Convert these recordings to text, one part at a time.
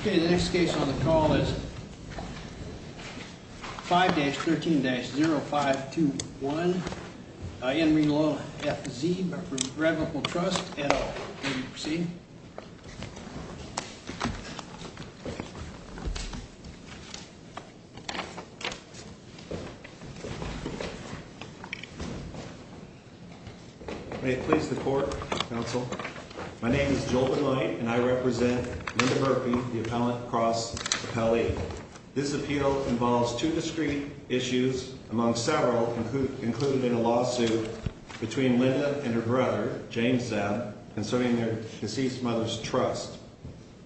Okay, the next case on the call is 5-13-0521 in re Lola F. Zeeb Revocable Trust, etc. May it please the court counsel. My name is Joel Benoit, and I represent Linda Murphy, the appellant across the pallet. This appeal involves two discrete issues, among several included in a lawsuit between Linda and her brother, James Zeeb, concerning their deceased mother's trust.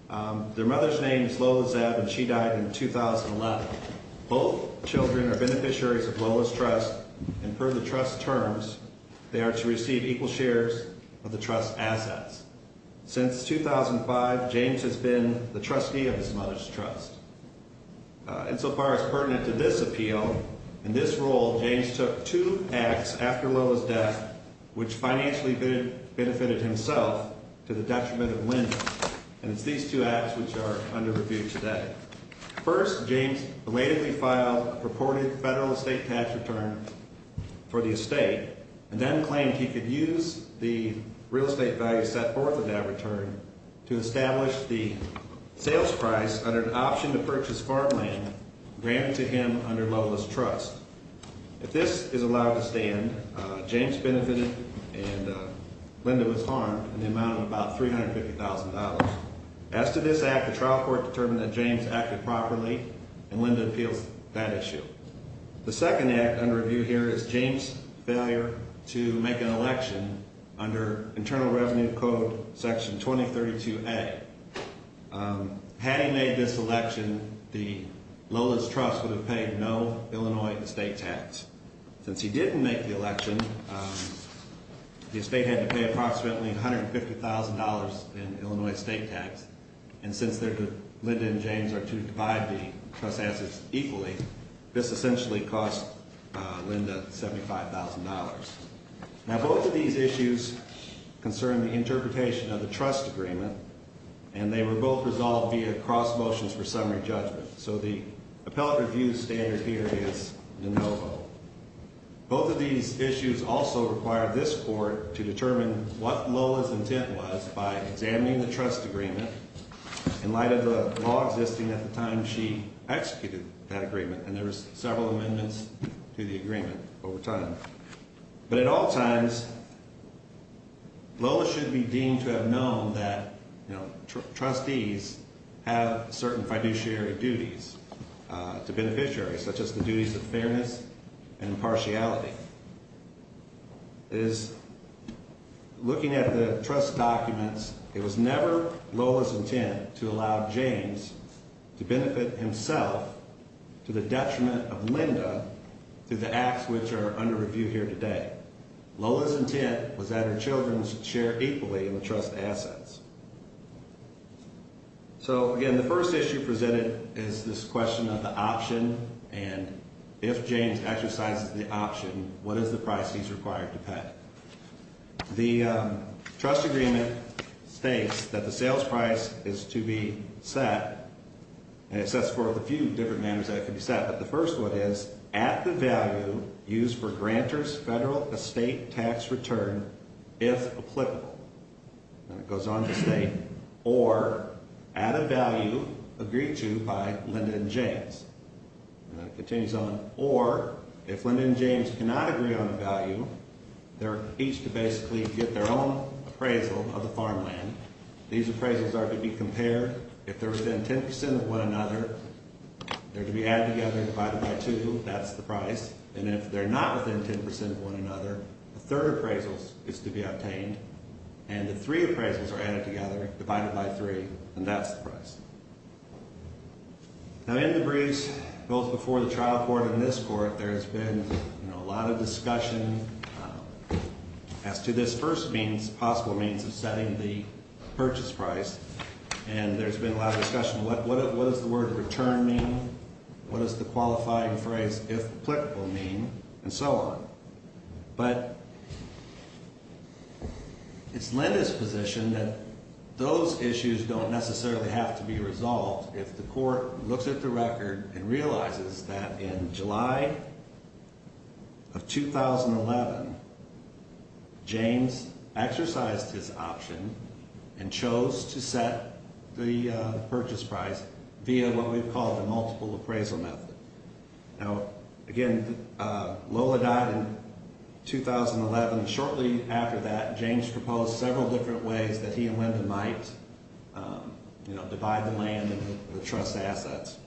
Their mother's name is Lola Zeeb, and she died in 2011. Both children are beneficiaries of Lola's trust, and per the trust terms, they are to receive equal shares of the trust's assets. Since 2005, James has been the trustee of his mother's trust. Insofar as pertinent to this appeal, in this role, James took two acts after Lola's death which financially benefited himself to the detriment of Linda. And it's these two acts which are under review today. First, James belatedly filed a purported federal estate tax return for the estate and then claimed he could use the real estate value set forth in that return to establish the sales price under an option to purchase farmland granted to him under Lola's trust. If this is allowed to stand, James benefited and Linda was harmed in the amount of about $350,000. As to this act, the trial court determined that James acted properly, and Linda appeals that issue. The second act under review here is James' failure to make an election under Internal Revenue Code Section 2032A. Had he made this election, Lola's trust would have paid no Illinois estate tax. Since he didn't make the election, the estate had to pay approximately $150,000 in Illinois estate tax. And since Linda and James are due to divide the trust's assets equally, this essentially cost Linda $75,000. Now both of these issues concern the interpretation of the trust agreement, and they were both resolved via cross motions for summary judgment. So the appellate review standard here is de novo. Both of these issues also required this court to determine what Lola's intent was by examining the trust agreement in light of the law existing at the time she executed that agreement, and there were several amendments to the agreement over time. But at all times, Lola should be deemed to have known that, you know, trustees have certain fiduciary duties to beneficiaries, such as the duties of fairness and impartiality. It is looking at the trust documents, it was never Lola's intent to allow James to benefit himself to the detriment of Linda through the acts which are under review here today. Lola's intent was that her children should share equally in the trust assets. So again, the first issue presented is this question of the option, and if James exercises the option, what is the price he's required to pay? The trust agreement states that the sales price is to be set, and it sets forth a few different manners that it could be set. But the first one is, at the value used for grantors' federal estate tax return, if applicable. And it goes on to state, or at a value agreed to by Linda and James. And it continues on, or if Linda and James cannot agree on a value, they're each to basically get their own appraisal of the farmland. These appraisals are to be compared. If they're within 10% of one another, they're to be added together and divided by two. That's the price. And if they're not within 10% of one another, a third appraisal is to be obtained. And the three appraisals are added together, divided by three, and that's the price. Now in the briefs, both before the trial court and this court, there has been a lot of discussion as to this first means, of setting the purchase price, and there's been a lot of discussion. What does the word return mean? What does the qualifying phrase, if applicable, mean? And so on. But it's Linda's position that those issues don't necessarily have to be resolved if the court looks at the record and realizes that in July of 2011, James exercised his option and chose to set the purchase price via what we've called the multiple appraisal method. Now, again, Lola died in 2011. Shortly after that, James proposed several different ways that he and Linda might divide the land and the trust's assets.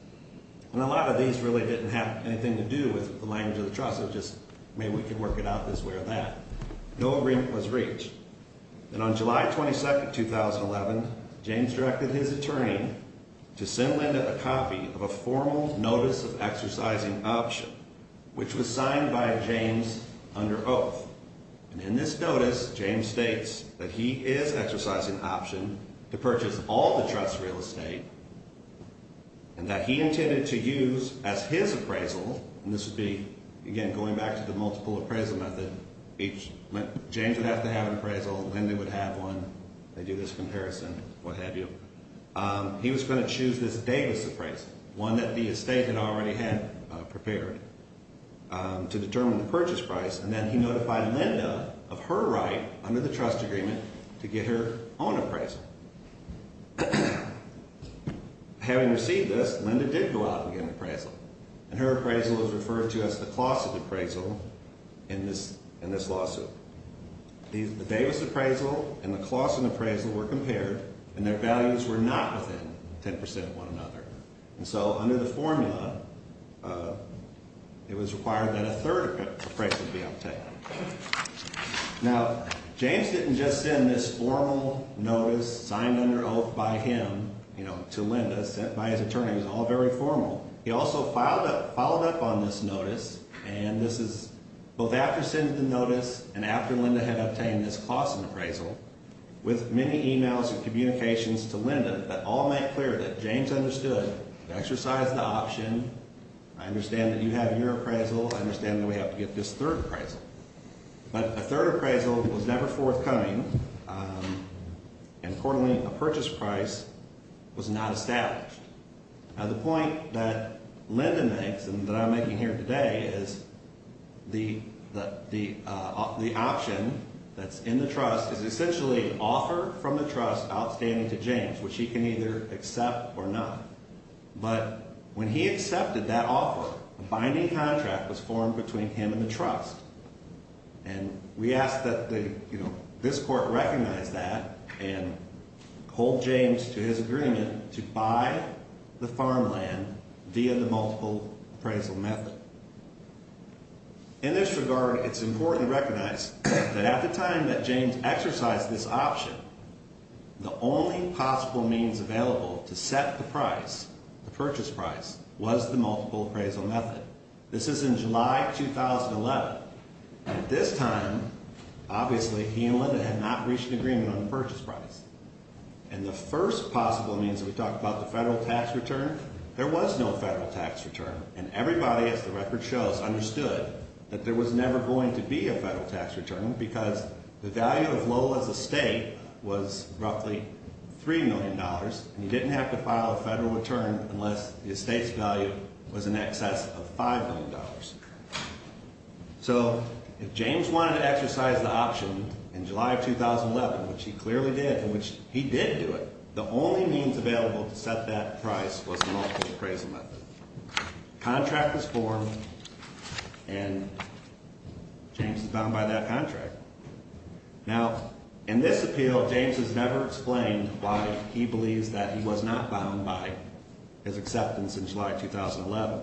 And a lot of these really didn't have anything to do with the language of the trust. It was just maybe we could work it out this way or that. No agreement was reached. And on July 22, 2011, James directed his attorney to send Linda a copy of a formal notice of exercising option, which was signed by James under oath. And in this notice, James states that he is exercising option to purchase all the trust's real estate and that he intended to use as his appraisal, and this would be, again, going back to the multiple appraisal method. James would have to have an appraisal. Linda would have one. They do this comparison, what have you. He was going to choose this Davis appraisal, one that the estate had already had prepared, to determine the purchase price. And then he notified Linda of her right under the trust agreement to get her own appraisal. Having received this, Linda did go out and get an appraisal. And her appraisal was referred to as the Clausen appraisal in this lawsuit. The Davis appraisal and the Clausen appraisal were compared, and their values were not within 10 percent of one another. And so under the formula, it was required that a third appraisal be obtained. Now, James didn't just send this formal notice signed under oath by him to Linda sent by his attorney. It was all very formal. He also followed up on this notice, and this is both after sending the notice and after Linda had obtained this Clausen appraisal, with many emails and communications to Linda that all made clear that James understood, exercised the option. I understand that you have your appraisal. I understand that we have to get this third appraisal. But a third appraisal was never forthcoming, and accordingly, a purchase price was not established. Now, the point that Linda makes and that I'm making here today is the option that's in the trust is essentially an offer from the trust outstanding to James, which he can either accept or not. But when he accepted that offer, a binding contract was formed between him and the trust. And we ask that this court recognize that and hold James to his agreement to buy the farmland via the multiple appraisal method. In this regard, it's important to recognize that at the time that James exercised this option, the only possible means available to set the price, the purchase price, was the multiple appraisal method. This is in July 2011. At this time, obviously, he and Linda had not reached an agreement on the purchase price. And the first possible means that we talked about, the federal tax return, there was no federal tax return, and everybody, as the record shows, understood that there was never going to be a federal tax return because the value of Lola's estate was roughly $3 million, and he didn't have to file a federal return unless the estate's value was in excess of $5 million. So if James wanted to exercise the option in July of 2011, which he clearly did, and which he did do it, the only means available to set that price was the multiple appraisal method. Contract was formed, and James is bound by that contract. Now, in this appeal, James has never explained why he believes that he was not bound by his acceptance in July 2011.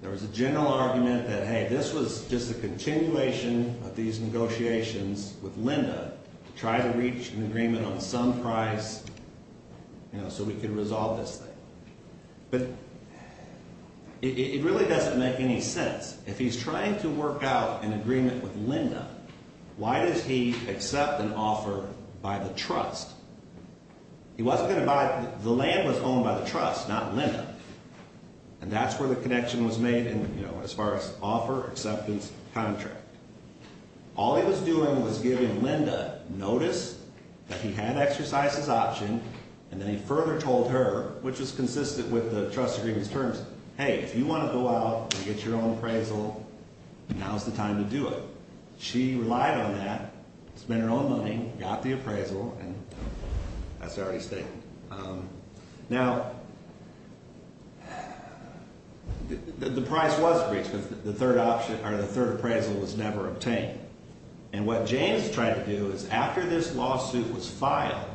There was a general argument that, hey, this was just a continuation of these negotiations with Linda to try to reach an agreement on some price, you know, so we could resolve this thing. But it really doesn't make any sense. If he's trying to work out an agreement with Linda, why does he accept an offer by the trust? He wasn't going to buy it. The land was owned by the trust, not Linda, and that's where the connection was made, you know, as far as offer, acceptance, contract. All he was doing was giving Linda notice that he had exercised his option, and then he further told her, which was consistent with the trust agreement's terms, hey, if you want to go out and get your own appraisal, now's the time to do it. She relied on that, spent her own money, got the appraisal, and that's already stated. Now, the price was breached because the third option or the third appraisal was never obtained. And what James tried to do is after this lawsuit was filed,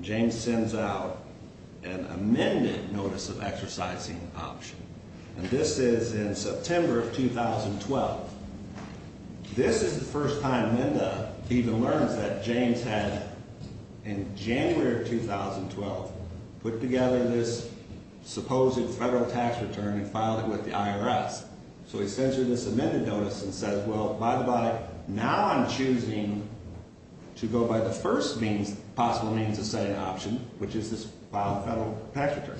James sends out an amended notice of exercising option. And this is in September of 2012. This is the first time Linda even learns that James had, in January of 2012, put together this supposed federal tax return and filed it with the IRS. So he sends her this amended notice and says, well, by the by, now I'm choosing to go by the first possible means of setting option, which is this filed federal tax return.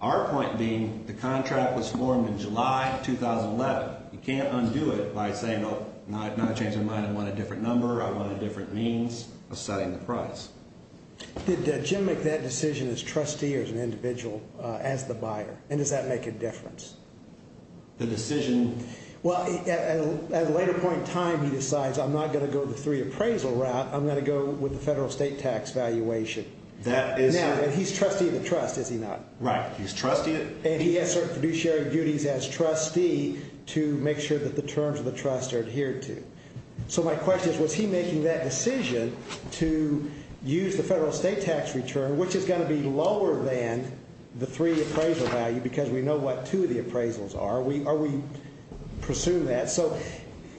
Our point being the contract was formed in July of 2011. You can't undo it by saying, well, now I've changed my mind. I want a different number. I want a different means of setting the price. Did Jim make that decision as trustee or as an individual as the buyer, and does that make a difference? The decision? Well, at a later point in time, he decides, I'm not going to go the three appraisal route. I'm going to go with the federal state tax valuation. That is. And he's trustee of the trust, is he not? Right. He's trustee. And he has certain fiduciary duties as trustee to make sure that the terms of the trust are adhered to. So my question is, was he making that decision to use the federal state tax return, which is going to be lower than the three appraisal value because we know what two of the appraisals are. Are we pursuing that? So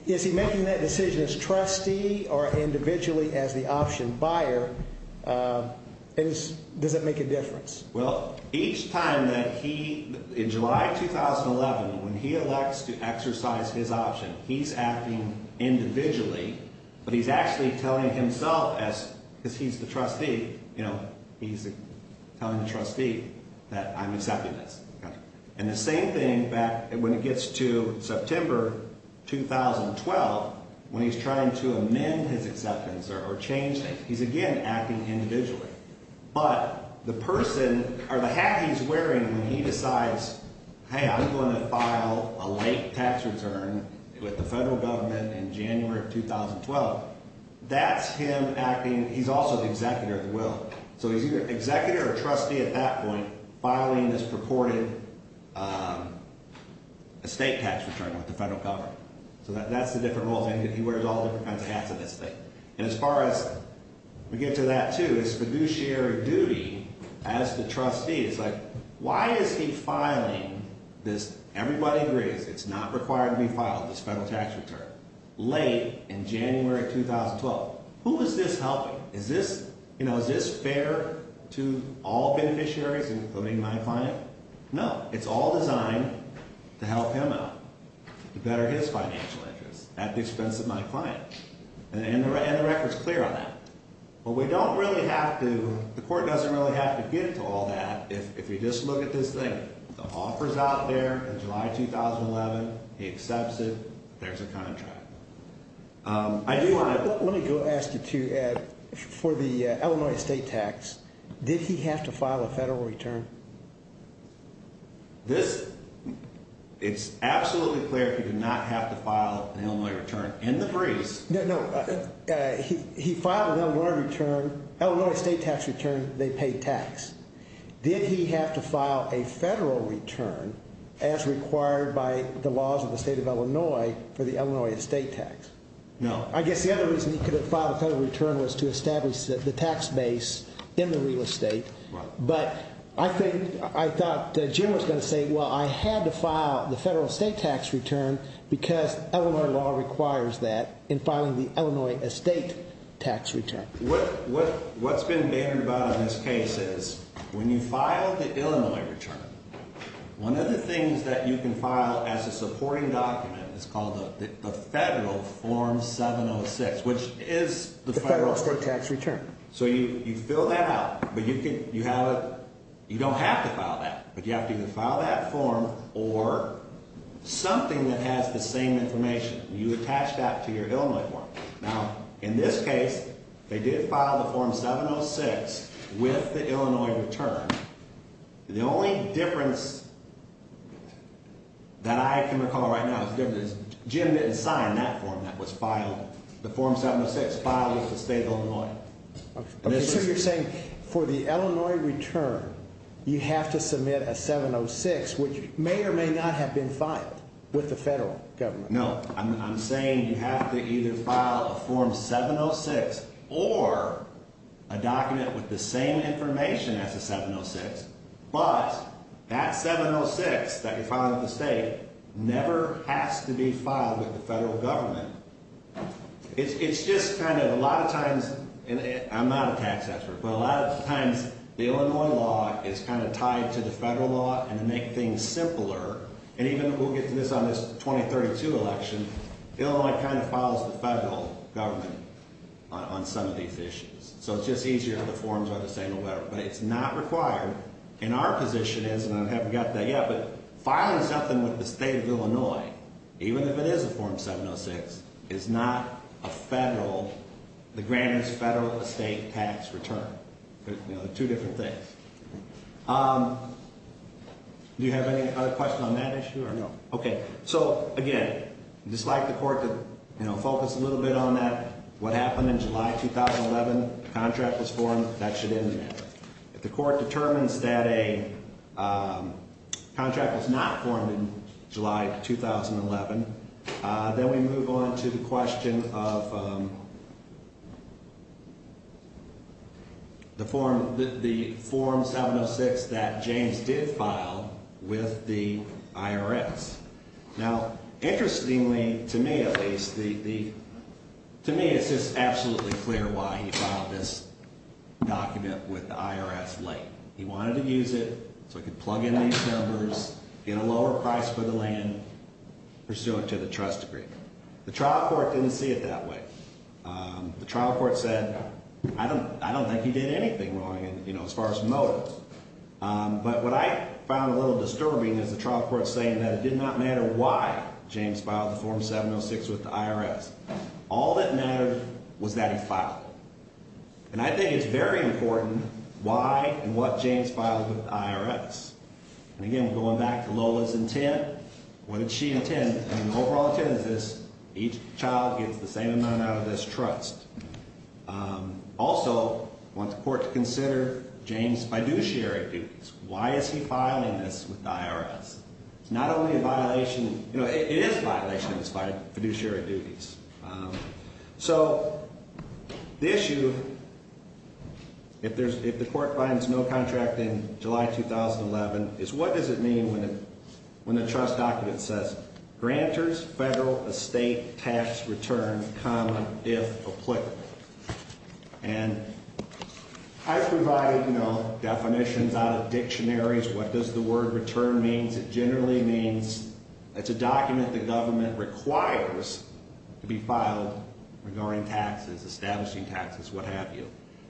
is he making that decision as trustee or individually as the option buyer, and does that make a difference? Well, each time that he, in July of 2011, when he elects to exercise his option, he's acting individually, but he's actually telling himself as he's the trustee, you know, he's telling the trustee that I'm accepting this. And the same thing back when it gets to September 2012, when he's trying to amend his acceptance or change it, he's again acting individually. But the person or the hat he's wearing when he decides, hey, I'm going to file a late tax return with the federal government in January of 2012. That's him acting. He's also the executor of the will. So he's either an executor or trustee at that point filing this purported estate tax return with the federal government. So that's the different roles. He wears all different kinds of hats in this thing. And as far as we get to that, too, his fiduciary duty as the trustee is like, why is he filing this? Everybody agrees it's not required to be filed, this federal tax return, late in January 2012. Who is this helping? Is this, you know, is this fair to all beneficiaries, including my client? No. It's all designed to help him out to better his financial interests at the expense of my client. And the record's clear on that. Well, we don't really have to. The court doesn't really have to get into all that. If you just look at this thing, the offer's out there in July 2011. He accepts it. There's a contract. Let me go ask you, too, Ed, for the Illinois estate tax, did he have to file a federal return? This, it's absolutely clear he did not have to file an Illinois return. No, he filed an Illinois return, Illinois estate tax return, they pay tax. Did he have to file a federal return as required by the laws of the state of Illinois for the Illinois estate tax? No. I guess the other reason he couldn't file a federal return was to establish the tax base in the real estate. But I think, I thought Jim was going to say, well, I had to file the federal estate tax return because Illinois law requires that in filing the Illinois estate tax return. What's been bantered about in this case is when you file the Illinois return, one of the things that you can file as a supporting document is called the federal form 706, which is the federal estate tax return. So you fill that out, but you don't have to file that. But you have to either file that form or something that has the same information. You attach that to your Illinois form. Now, in this case, they did file the form 706 with the Illinois return. The only difference that I can recall right now is Jim didn't sign that form that was filed. The form 706 filed with the state of Illinois. So you're saying for the Illinois return, you have to submit a 706, which may or may not have been filed with the federal government. No, I'm saying you have to either file a form 706 or a document with the same information as a 706. But that 706 that you're filing with the state never has to be filed with the federal government. It's just kind of a lot of times, and I'm not a tax expert, but a lot of times the Illinois law is kind of tied to the federal law and to make things simpler. And even we'll get to this on this 2032 election, Illinois kind of follows the federal government on some of these issues. So it's just easier if the forms are the same or better. But it's not required. And our position is, and I haven't gotten to that yet, but filing something with the state of Illinois, even if it is a form 706, is not a federal, the grandest federal estate tax return. They're two different things. Do you have any other questions on that issue or no? Okay, so again, I'd just like the court to focus a little bit on that. What happened in July 2011, the contract was formed. That should end the matter. If the court determines that a contract was not formed in July 2011, then we move on to the question of the form 706 that James did file with the IRS. Now, interestingly to me at least, to me it's just absolutely clear why he filed this document with the IRS late. He wanted to use it so he could plug in these numbers, get a lower price for the land, pursue it to the trust agreement. The trial court didn't see it that way. The trial court said, I don't think he did anything wrong as far as motives. But what I found a little disturbing is the trial court saying that it did not matter why James filed the form 706 with the IRS. All that mattered was that he filed it. And I think it's very important why and what James filed with the IRS. And again, going back to Lola's intent, what did she intend? And the overall intent is this, each child gets the same amount out of this trust. Also, I want the court to consider James' fiduciary duties. Why is he filing this with the IRS? It's not only a violation, you know, it is a violation of his fiduciary duties. So the issue, if the court finds no contract in July 2011, is what does it mean when the trust document says, grantors, federal, estate, tax, return, common, if applicable. And I've provided, you know, definitions out of dictionaries, what does the word return mean. It generally means it's a document the government requires to be filed regarding taxes, establishing taxes, what have you.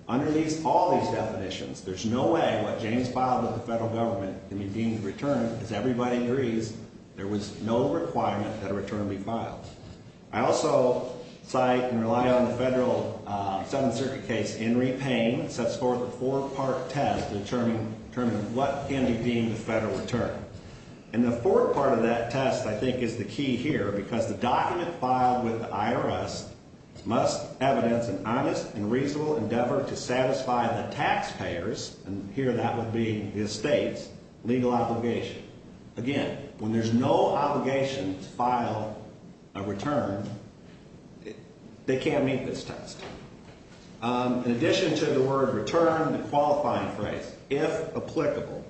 Under all these definitions, there's no way what James filed with the federal government can be deemed a return. As everybody agrees, there was no requirement that a return be filed. I also cite and rely on the federal 7th Circuit case, Henry Payne, sets forth a four-part test to determine what can be deemed a federal return. And the fourth part of that test, I think, is the key here, because the document filed with the IRS must evidence an honest and reasonable endeavor to satisfy the taxpayers, and here that would be the estates, legal obligation. Again, when there's no obligation to file a return, they can't meet this test. In addition to the word return, the qualifying phrase, if applicable,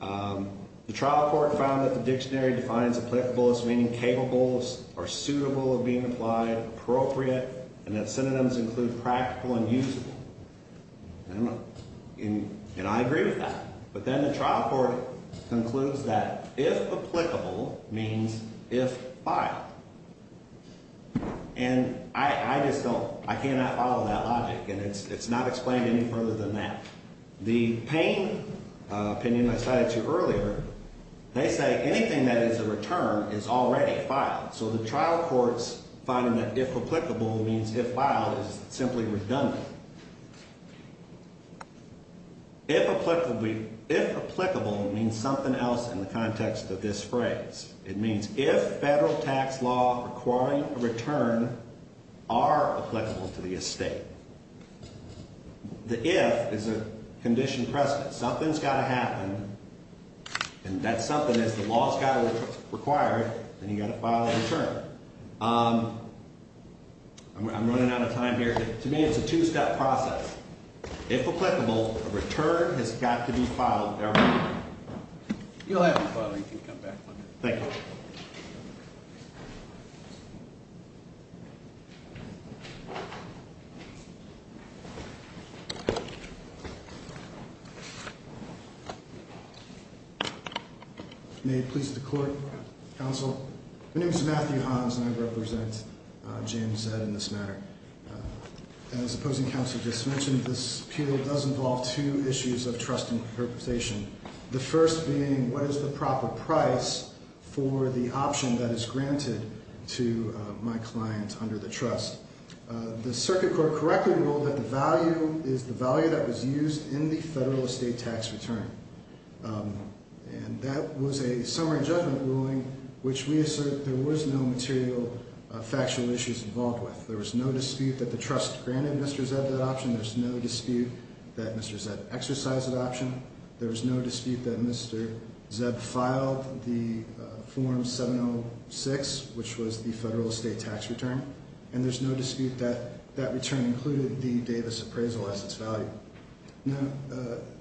the trial court found that the dictionary defines applicable as meaning capable or suitable of being applied, appropriate, and that synonyms include practical and usable. And I agree with that. But then the trial court concludes that if applicable means if filed. And I just don't – I cannot follow that logic, and it's not explained any further than that. The Payne opinion I cited to you earlier, they say anything that is a return is already filed. So the trial court's finding that if applicable means if filed is simply redundant. If applicable means something else in the context of this phrase. It means if federal tax law requiring a return are applicable to the estate. The if is a condition precedent. Something's got to happen, and that something is the law's got to require it, and you've got to file a return. I'm running out of time here. To me, it's a two-step process. If applicable, a return has got to be filed. You'll have to file it, or you can come back to me. Thank you. Thank you. May it please the court, counsel. My name is Matthew Hans, and I represent James Zed in this matter. As the opposing counsel just mentioned, this appeal does involve two issues of trust and compensation. The first being what is the proper price for the option that is granted to my client under the trust? The circuit court correctly ruled that the value is the value that was used in the federal estate tax return. And that was a summary judgment ruling which we assert there was no material factual issues involved with. There was no dispute that the trust granted Mr. Zed that option. There was no dispute that Mr. Zed exercised that option. There was no dispute that Mr. Zed filed the form 706, which was the federal estate tax return. And there's no dispute that that return included the Davis appraisal as its value. Now,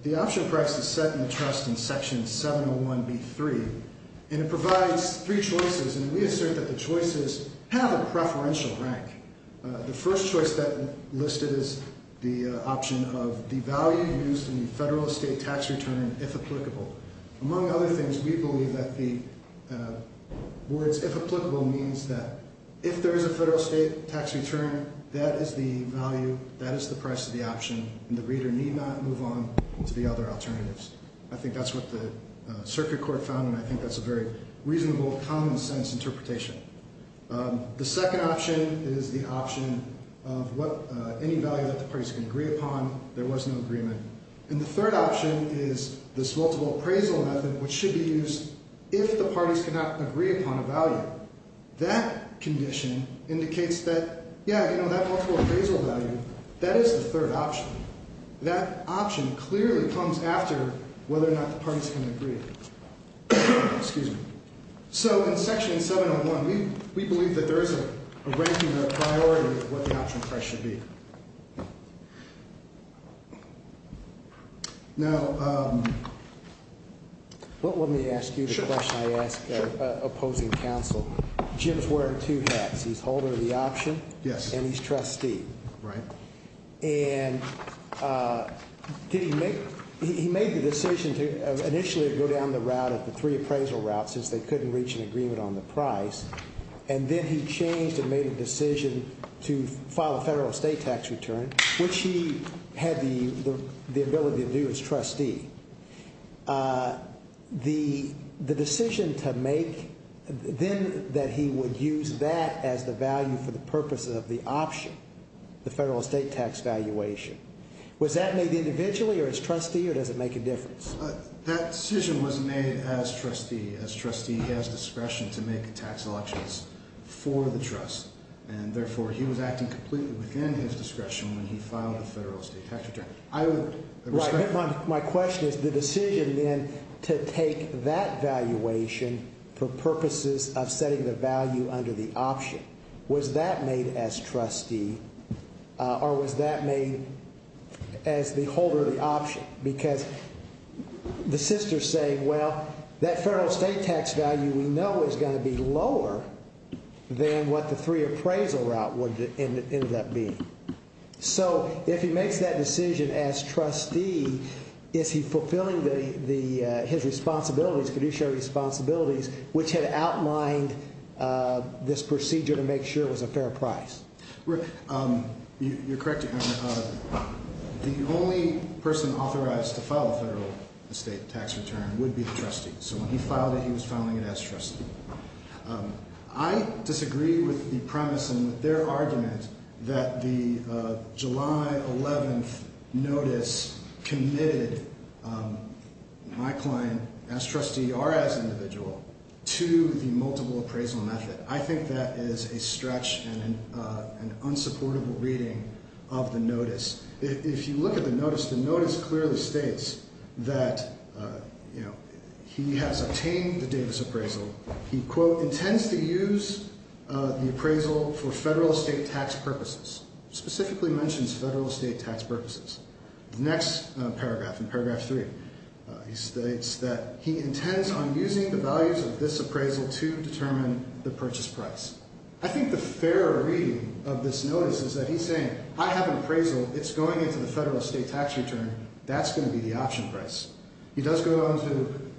the option price is set in the trust in section 701B3, and it provides three choices, and we assert that the choices have a preferential rank. The first choice that listed is the option of the value used in the federal estate tax return, if applicable. Among other things, we believe that the words if applicable means that if there is a federal estate tax return, that is the value, that is the price of the option, and the reader need not move on to the other alternatives. I think that's what the circuit court found, and I think that's a very reasonable, common-sense interpretation. The second option is the option of any value that the parties can agree upon. There was no agreement. And the third option is this multiple appraisal method, which should be used if the parties cannot agree upon a value. That condition indicates that, yeah, you know, that multiple appraisal value, that is the third option. That option clearly comes after whether or not the parties can agree. Excuse me. So in section 701, we believe that there is a ranking of priority of what the option price should be. Now, let me ask you the question I asked opposing counsel. Jim is wearing two hats. He's holder of the option, and he's trustee. Right. And he made the decision to initially go down the route of the three appraisal routes since they couldn't reach an agreement on the price, and then he changed and made a decision to file a federal estate tax return, which he had the ability to do as trustee. The decision to make then that he would use that as the value for the purpose of the option, the federal estate tax valuation, was that made individually or as trustee, or does it make a difference? That decision was made as trustee, as trustee has discretion to make tax elections for the trust. And therefore, he was acting completely within his discretion when he filed the federal estate tax return. My question is the decision then to take that valuation for purposes of setting the value under the option. Was that made as trustee or was that made as the holder of the option? Because the sister is saying, well, that federal estate tax value we know is going to be lower than what the three appraisal route would end up being. So if he makes that decision as trustee, is he fulfilling his responsibilities, fiduciary responsibilities, which had outlined this procedure to make sure it was a fair price? Rick, you're correct. The only person authorized to file a federal estate tax return would be the trustee. So when he filed it, he was filing it as trustee. I disagree with the premise and with their argument that the July 11th notice committed my client as trustee or as individual to the multiple appraisal method. I think that is a stretch and an unsupportable reading of the notice. If you look at the notice, the notice clearly states that, you know, he has obtained the Davis appraisal. He, quote, intends to use the appraisal for federal estate tax purposes, specifically mentions federal estate tax purposes. The next paragraph in paragraph three states that he intends on using the values of this appraisal to determine the purchase price. I think the fair reading of this notice is that he's saying, I have an appraisal. It's going into the federal estate tax return. That's going to be the option price. He does go on to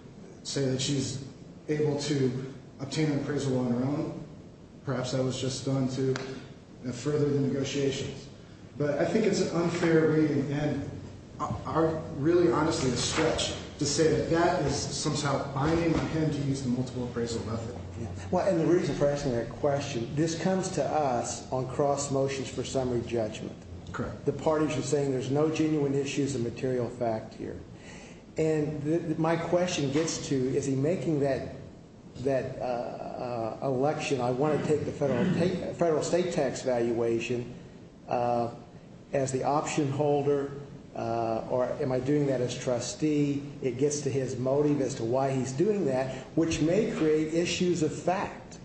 say that she's able to obtain an appraisal on her own. Perhaps that was just done to further the negotiations. But I think it's an unfair reading and really, honestly, a stretch to say that that is somehow binding him to use the multiple appraisal method. Well, and the reason for asking that question, this comes to us on cross motions for summary judgment. The parties are saying there's no genuine issues of material fact here. And my question gets to, is he making that election, I want to take the federal estate tax valuation as the option holder or am I doing that as trustee? It gets to his motive as to why he's doing that, which may create issues of fact,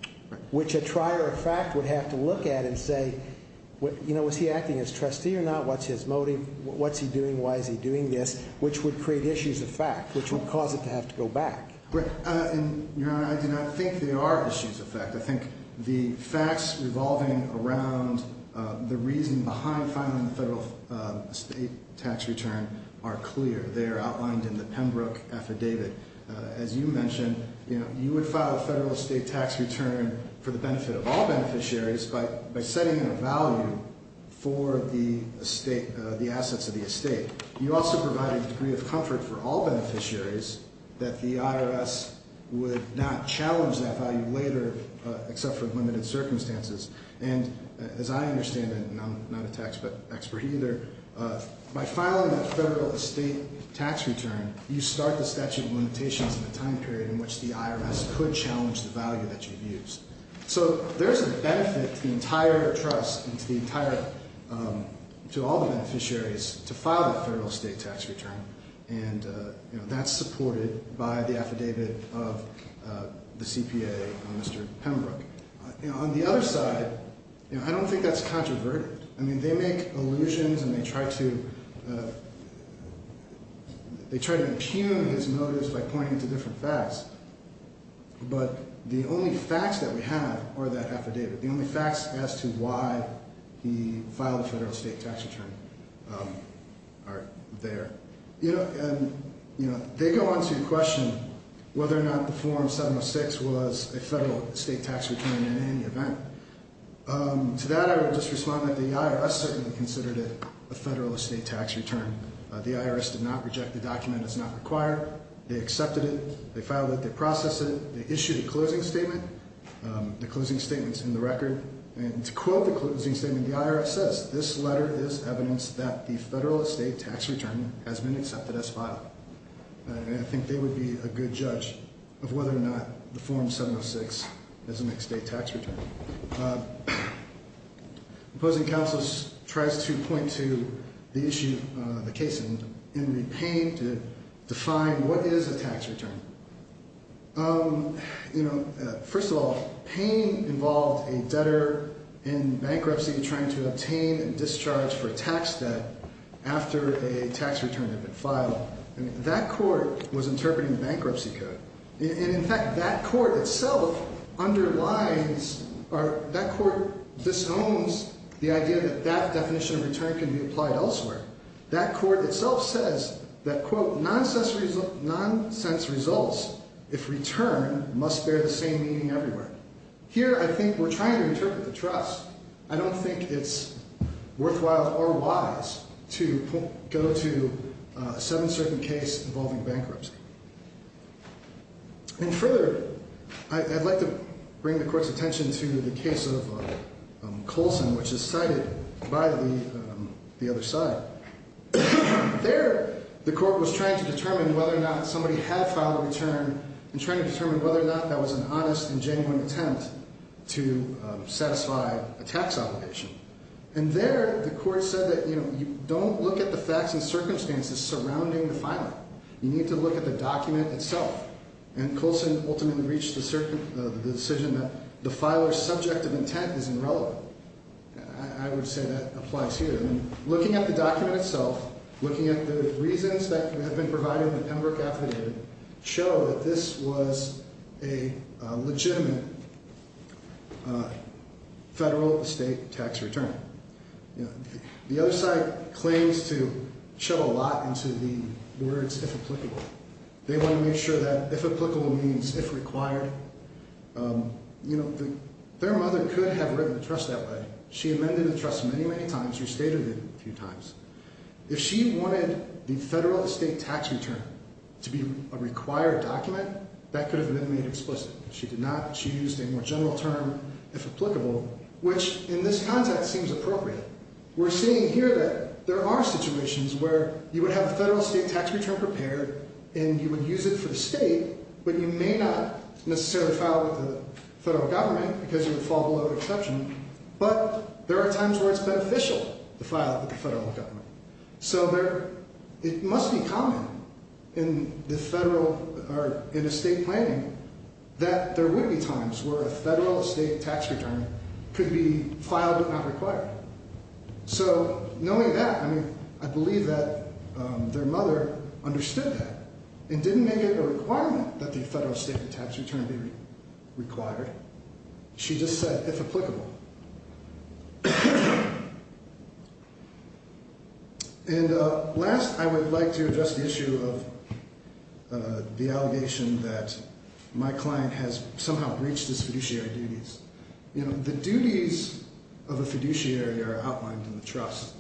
which a trier of fact would have to look at and say, you know, is he acting as trustee or not? What's his motive? What's he doing? Why is he doing this? Which would create issues of fact, which would cause it to have to go back. I do not think there are issues of fact. I think the facts revolving around the reason behind filing the federal estate tax return are clear. They are outlined in the Pembroke affidavit. As you mentioned, you would file a federal estate tax return for the benefit of all beneficiaries by setting a value for the estate, the assets of the estate. You also provide a degree of comfort for all beneficiaries that the IRS would not challenge that value later except for limited circumstances. And as I understand it, and I'm not a tax expert either, by filing a federal estate tax return, you start the statute of limitations and the time period in which the IRS could challenge the value that you've used. So there's a benefit to the entire trust and to all the beneficiaries to file the federal estate tax return, and that's supported by the affidavit of the CPA, Mr. Pembroke. On the other side, I don't think that's controverted. I mean, they make allusions and they try to impugn his motives by pointing to different facts. But the only facts that we have are that affidavit. The only facts as to why he filed a federal estate tax return are there. And they go on to question whether or not the Form 706 was a federal estate tax return in any event. To that, I would just respond that the IRS certainly considered it a federal estate tax return. The IRS did not reject the document. It's not required. They accepted it. They filed it. They processed it. They issued a closing statement. The closing statement's in the record. And to quote the closing statement, the IRS says, this letter is evidence that the federal estate tax return has been accepted as filed. And I think they would be a good judge of whether or not the Form 706 is an estate tax return. The opposing counsel tries to point to the issue, the case, in the pain to define what is a tax return. You know, first of all, pain involved a debtor in bankruptcy trying to obtain a discharge for a tax debt after a tax return had been filed. And that court was interpreting the bankruptcy code. And, in fact, that court itself underlines or that court disowns the idea that that definition of return can be applied elsewhere. That court itself says that, quote, nonsense results if return must bear the same meaning everywhere. Here, I think we're trying to interpret the trust. I don't think it's worthwhile or wise to go to a seven-certain case involving bankruptcy. And further, I'd like to bring the court's attention to the case of Colson, which is cited by the other side. There, the court was trying to determine whether or not somebody had filed a return and trying to determine whether or not that was an honest and genuine attempt to satisfy a tax obligation. And there, the court said that, you know, you don't look at the facts and circumstances surrounding the filer. You need to look at the document itself. And Colson ultimately reached the decision that the filer's subject of intent is irrelevant. I would say that applies here. I mean, looking at the document itself, looking at the reasons that have been provided in the Pembroke affidavit, show that this was a legitimate federal estate tax return. You know, the other side claims to shove a lot into the words if applicable. They want to make sure that if applicable means if required. You know, their mother could have written the trust that way. She amended the trust many, many times. Restated it a few times. If she wanted the federal estate tax return to be a required document, that could have been made explicit. She did not. She used a more general term, if applicable, which in this context seems appropriate. We're seeing here that there are situations where you would have a federal estate tax return prepared and you would use it for the state, but you may not necessarily file with the federal government because you would fall below the exception. But there are times where it's beneficial to file with the federal government. So it must be common in the federal or in estate planning that there would be times where a federal estate tax return could be filed but not required. So knowing that, I mean, I believe that their mother understood that and didn't make it a requirement that the federal estate tax return be required. She just said if applicable. And last, I would like to address the issue of the allegation that my client has somehow breached his fiduciary duties. You know, the duties of a fiduciary are outlined in the trust.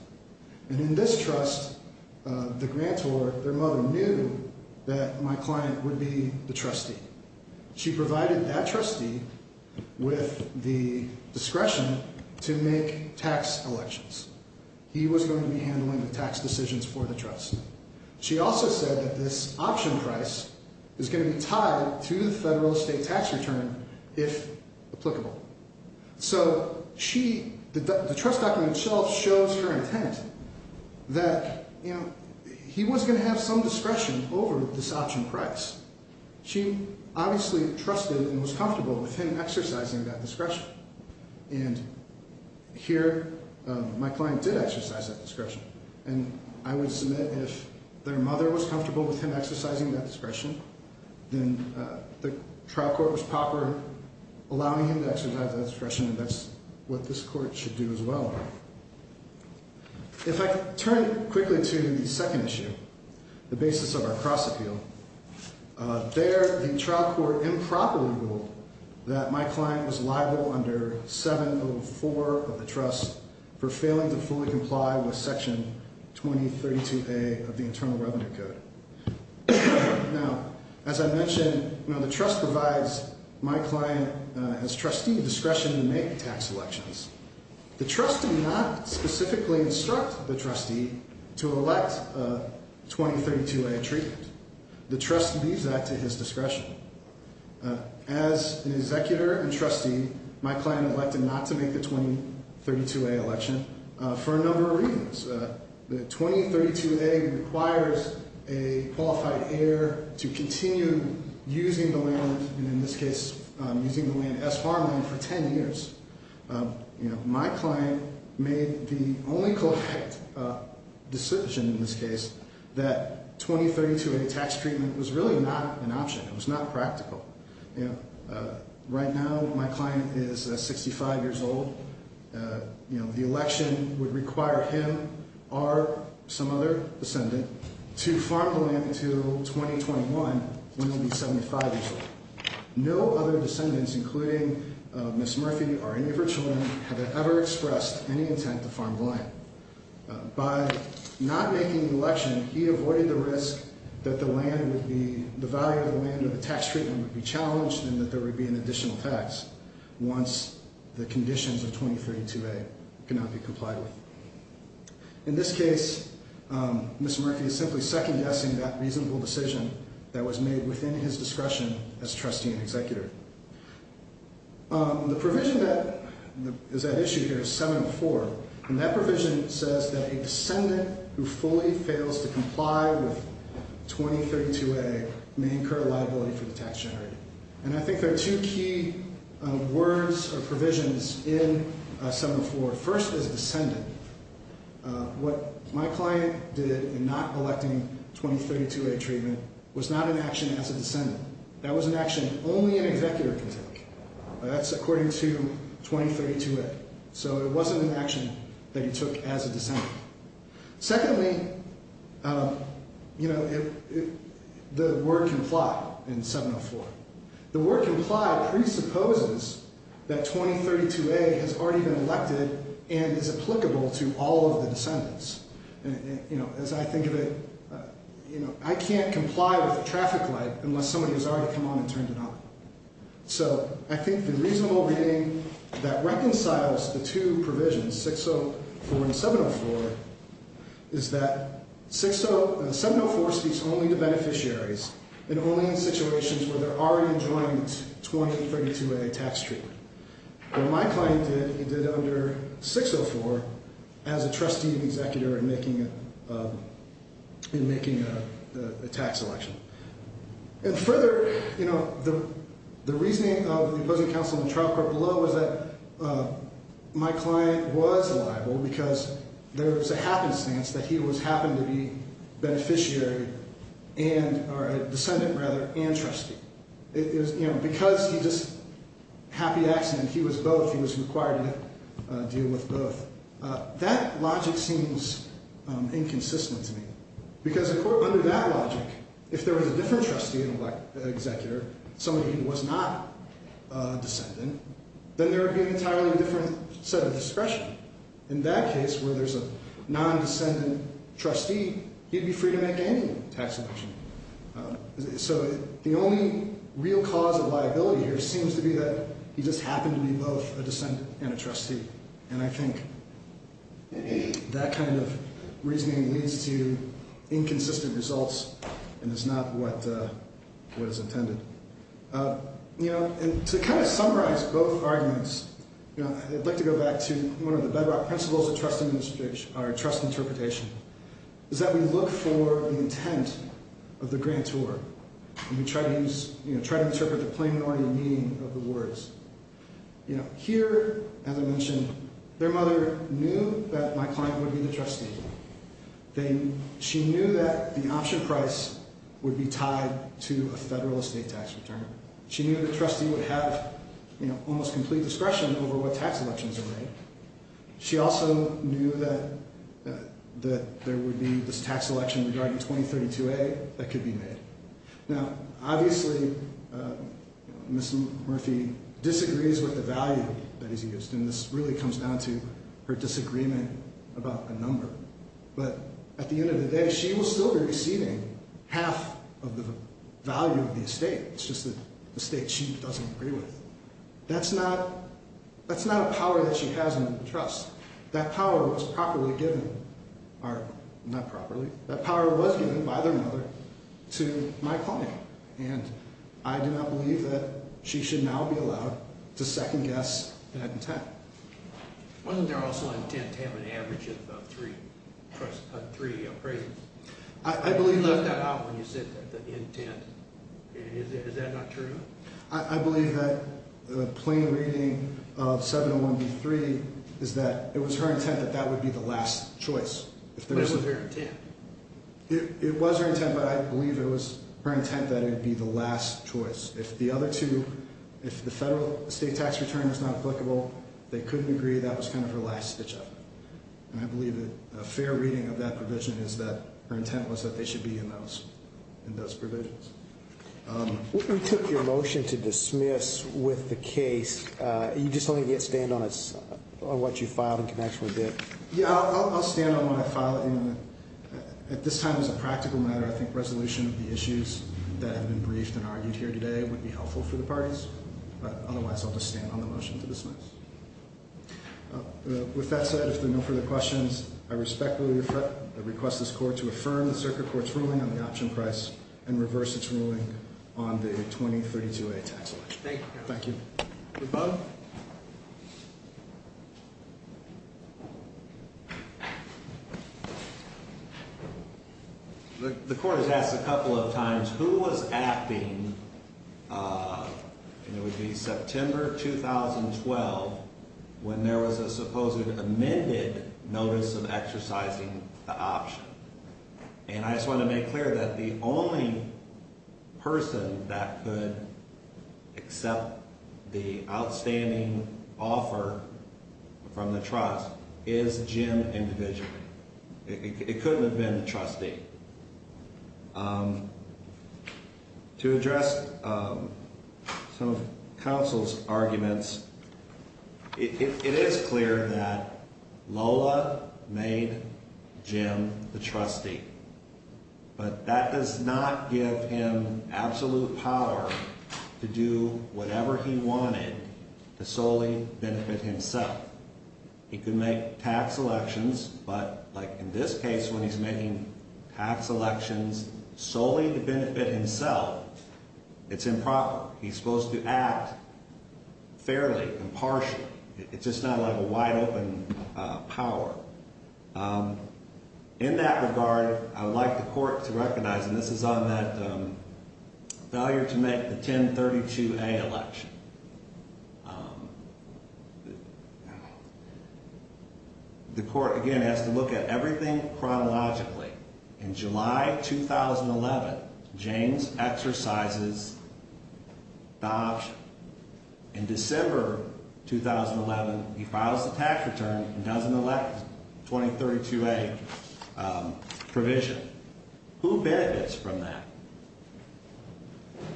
And in this trust, the grantor, their mother, knew that my client would be the trustee. She provided that trustee with the discretion to make tax elections. He was going to be handling the tax decisions for the trust. She also said that this option price is going to be tied to the federal estate tax return if applicable. So the trust document itself shows her intent that he was going to have some discretion over this option price. She obviously trusted and was comfortable with him exercising that discretion. And here, my client did exercise that discretion. And I would submit if their mother was comfortable with him exercising that discretion, then the trial court was proper allowing him to exercise that discretion, and that's what this court should do as well. If I turn quickly to the second issue, the basis of our cross-appeal, there the trial court improperly ruled that my client was liable under 704 of the trust for failing to fully comply with Section 2032A of the Internal Revenue Code. Now, as I mentioned, the trust provides my client as trustee discretion to make tax elections. The trust did not specifically instruct the trustee to elect a 2032A treatment. The trust leaves that to his discretion. As an executor and trustee, my client elected not to make the 2032A election for a number of reasons. The 2032A requires a qualified heir to continue using the land, and in this case, using the land as farmland for 10 years. My client made the only correct decision in this case that 2032A tax treatment was really not an option. It was not practical. Right now, my client is 65 years old. The election would require him or some other descendant to farm the land until 2021, when he'll be 75 years old. No other descendants, including Ms. Murphy or any of her children, have ever expressed any intent to farm the land. By not making the election, he avoided the risk that the value of the land or the tax treatment would be challenged and that there would be an additional tax once the conditions of 2032A could not be complied with. In this case, Ms. Murphy is simply second-guessing that reasonable decision that was made within his discretion as trustee and executor. The provision that is at issue here is 704, and that provision says that a descendant who fully fails to comply with 2032A may incur liability for the tax generated. And I think there are two key words or provisions in 704. First is descendant. What my client did in not electing 2032A treatment was not an action as a descendant. That was an action only an executor could take. That's according to 2032A. So it wasn't an action that he took as a descendant. Secondly, the word comply in 704. The word comply presupposes that 2032A has already been elected and is applicable to all of the descendants. As I think of it, I can't comply with a traffic light unless somebody has already come on and turned it on. So I think the reasonable reading that reconciles the two provisions, 604 and 704, is that 704 speaks only to beneficiaries and only in situations where they're already enjoying 2032A tax treatment. What my client did, he did under 604 as a trustee and executor in making a tax election. And further, the reasoning of the opposing counsel in the trial court below is that my client was liable because there was a happenstance that he happened to be beneficiary and, or a descendant rather, and trustee. Because he just, happy accident, he was both. He was required to deal with both. That logic seems inconsistent to me. Because under that logic, if there was a different trustee and executor, somebody who was not a descendant, then there would be an entirely different set of discretion. In that case, where there's a non-descendant trustee, he'd be free to make any tax election. So the only real cause of liability here seems to be that he just happened to be both a descendant and a trustee. And I think that kind of reasoning leads to inconsistent results and is not what is intended. To kind of summarize both arguments, I'd like to go back to one of the bedrock principles of trust interpretation. It's that we look for the intent of the grantor. We try to interpret the plain, ordinary meaning of the words. Here, as I mentioned, their mother knew that my client would be the trustee. She knew that the option price would be tied to a federal estate tax return. She knew the trustee would have almost complete discretion over what tax elections are made. She also knew that there would be this tax election regarding 2032A that could be made. Now, obviously, Ms. Murphy disagrees with the value that is used. And this really comes down to her disagreement about the number. But at the end of the day, she will still be receiving half of the value of the estate. It's just the estate she doesn't agree with. That's not a power that she has in the trust. That power was properly given, or not properly. That power was given by their mother to my client. And I do not believe that she should now be allowed to second-guess that intent. Wasn't there also an intent to have an average of three appraisals? You left that out when you said the intent. Is that not true? I believe that the plain reading of 701B3 is that it was her intent that that would be the last choice. But it was her intent. It was her intent, but I believe it was her intent that it would be the last choice. If the other two, if the federal estate tax return is not applicable, they couldn't agree, that was kind of her last stitch-up. And I believe that a fair reading of that provision is that her intent was that they should be in those provisions. We took your motion to dismiss with the case. You just don't think you can stand on what you filed in connection with it? Yeah, I'll stand on what I filed. At this time, as a practical matter, I think resolution of the issues that have been briefed and argued here today would be helpful for the parties. Otherwise, I'll just stand on the motion to dismiss. With that said, if there are no further questions, I respectfully request this court to affirm the circuit court's ruling on the option price and reverse its ruling on the 2032A tax election. Thank you. Thank you both. The court has asked a couple of times who was acting, and it would be September 2012, when there was a supposed amended notice of exercising the option. And I just want to make clear that the only person that could accept the outstanding offer from the trust is Jim individually. It couldn't have been the trustee. To address some of counsel's arguments, it is clear that Lola made Jim the trustee. But that does not give him absolute power to do whatever he wanted to solely benefit himself. He could make tax elections, but like in this case, when he's making tax elections solely to benefit himself, it's improper. He's supposed to act fairly, impartially. It's just not a wide open power. In that regard, I would like the court to recognize, and this is on that failure to make the 1032A election. The court, again, has to look at everything chronologically. In July 2011, James exercises the option. In December 2011, he files the tax return and does an election, 2032A provision. Who benefits from that?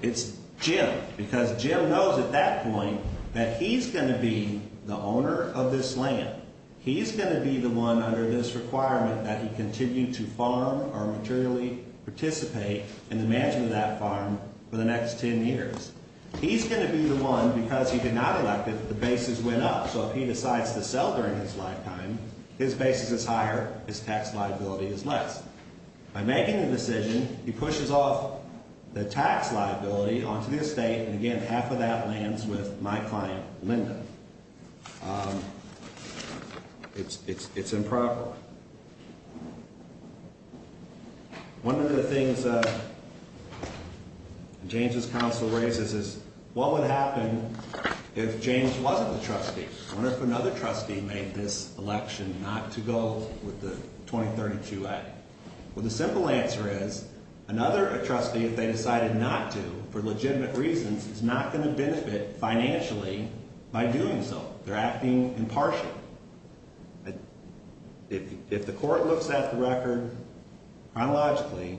It's Jim, because Jim knows at that point that he's going to be the owner of this land. He's going to be the one under this requirement that he continue to farm or materially participate in the management of that farm for the next 10 years. He's going to be the one, because he did not elect it, the basis went up. So if he decides to sell during his lifetime, his basis is higher, his tax liability is less. By making the decision, he pushes off the tax liability onto the estate, and again, half of that lands with my client, Linda. It's improper. One of the things James' counsel raises is, what would happen if James wasn't the trustee? What if another trustee made this election not to go with the 2032A? Well, the simple answer is, another trustee, if they decided not to, for legitimate reasons, is not going to benefit financially by doing so. They're acting impartially. If the court looks at the record chronologically,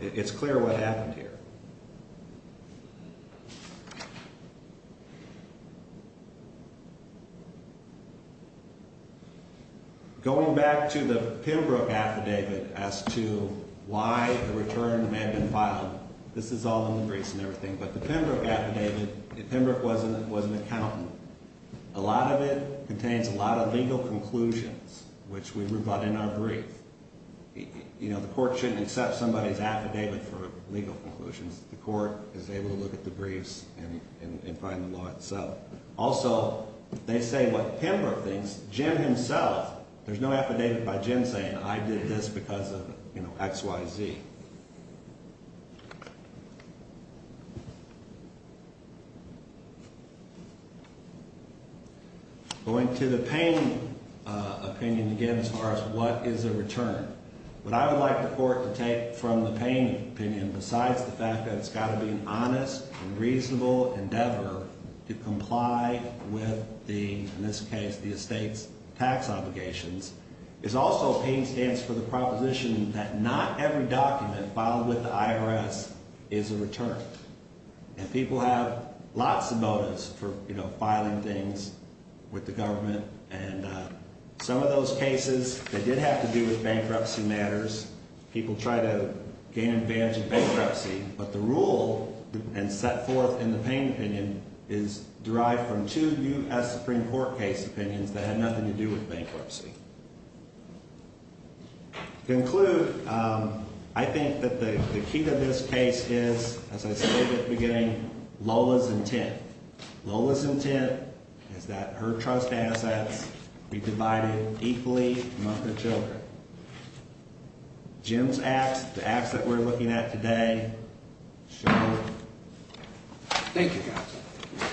it's clear what happened here. Going back to the Pembroke affidavit as to why the return may have been filed, this is all in the briefs and everything. But the Pembroke affidavit, if Pembroke was an accountant, a lot of it contains a lot of legal conclusions, which we brought in our brief. The court shouldn't accept somebody's affidavit for legal conclusions. The court is able to look at the briefs and find the law itself. Also, they say what Pembroke thinks, Jim himself, there's no affidavit by Jim saying, I did this because of X, Y, Z. Going to the Payne opinion again as far as what is a return. What I would like the court to take from the Payne opinion, besides the fact that it's got to be an honest and reasonable endeavor to comply with the, in this case, the estate's tax obligations, is also Payne stands for the proposition that not every document filed with the IRS is a return. And people have lots of motives for filing things with the government. And some of those cases, they did have to do with bankruptcy matters. People try to gain advantage of bankruptcy. But the rule and set forth in the Payne opinion is derived from two U.S. Supreme Court case opinions that had nothing to do with bankruptcy. To conclude, I think that the key to this case is, as I stated at the beginning, Lola's intent. Lola's intent is that her trust assets be divided equally among her children. Jim's acts, the acts that we're looking at today, show that. Thank you, guys.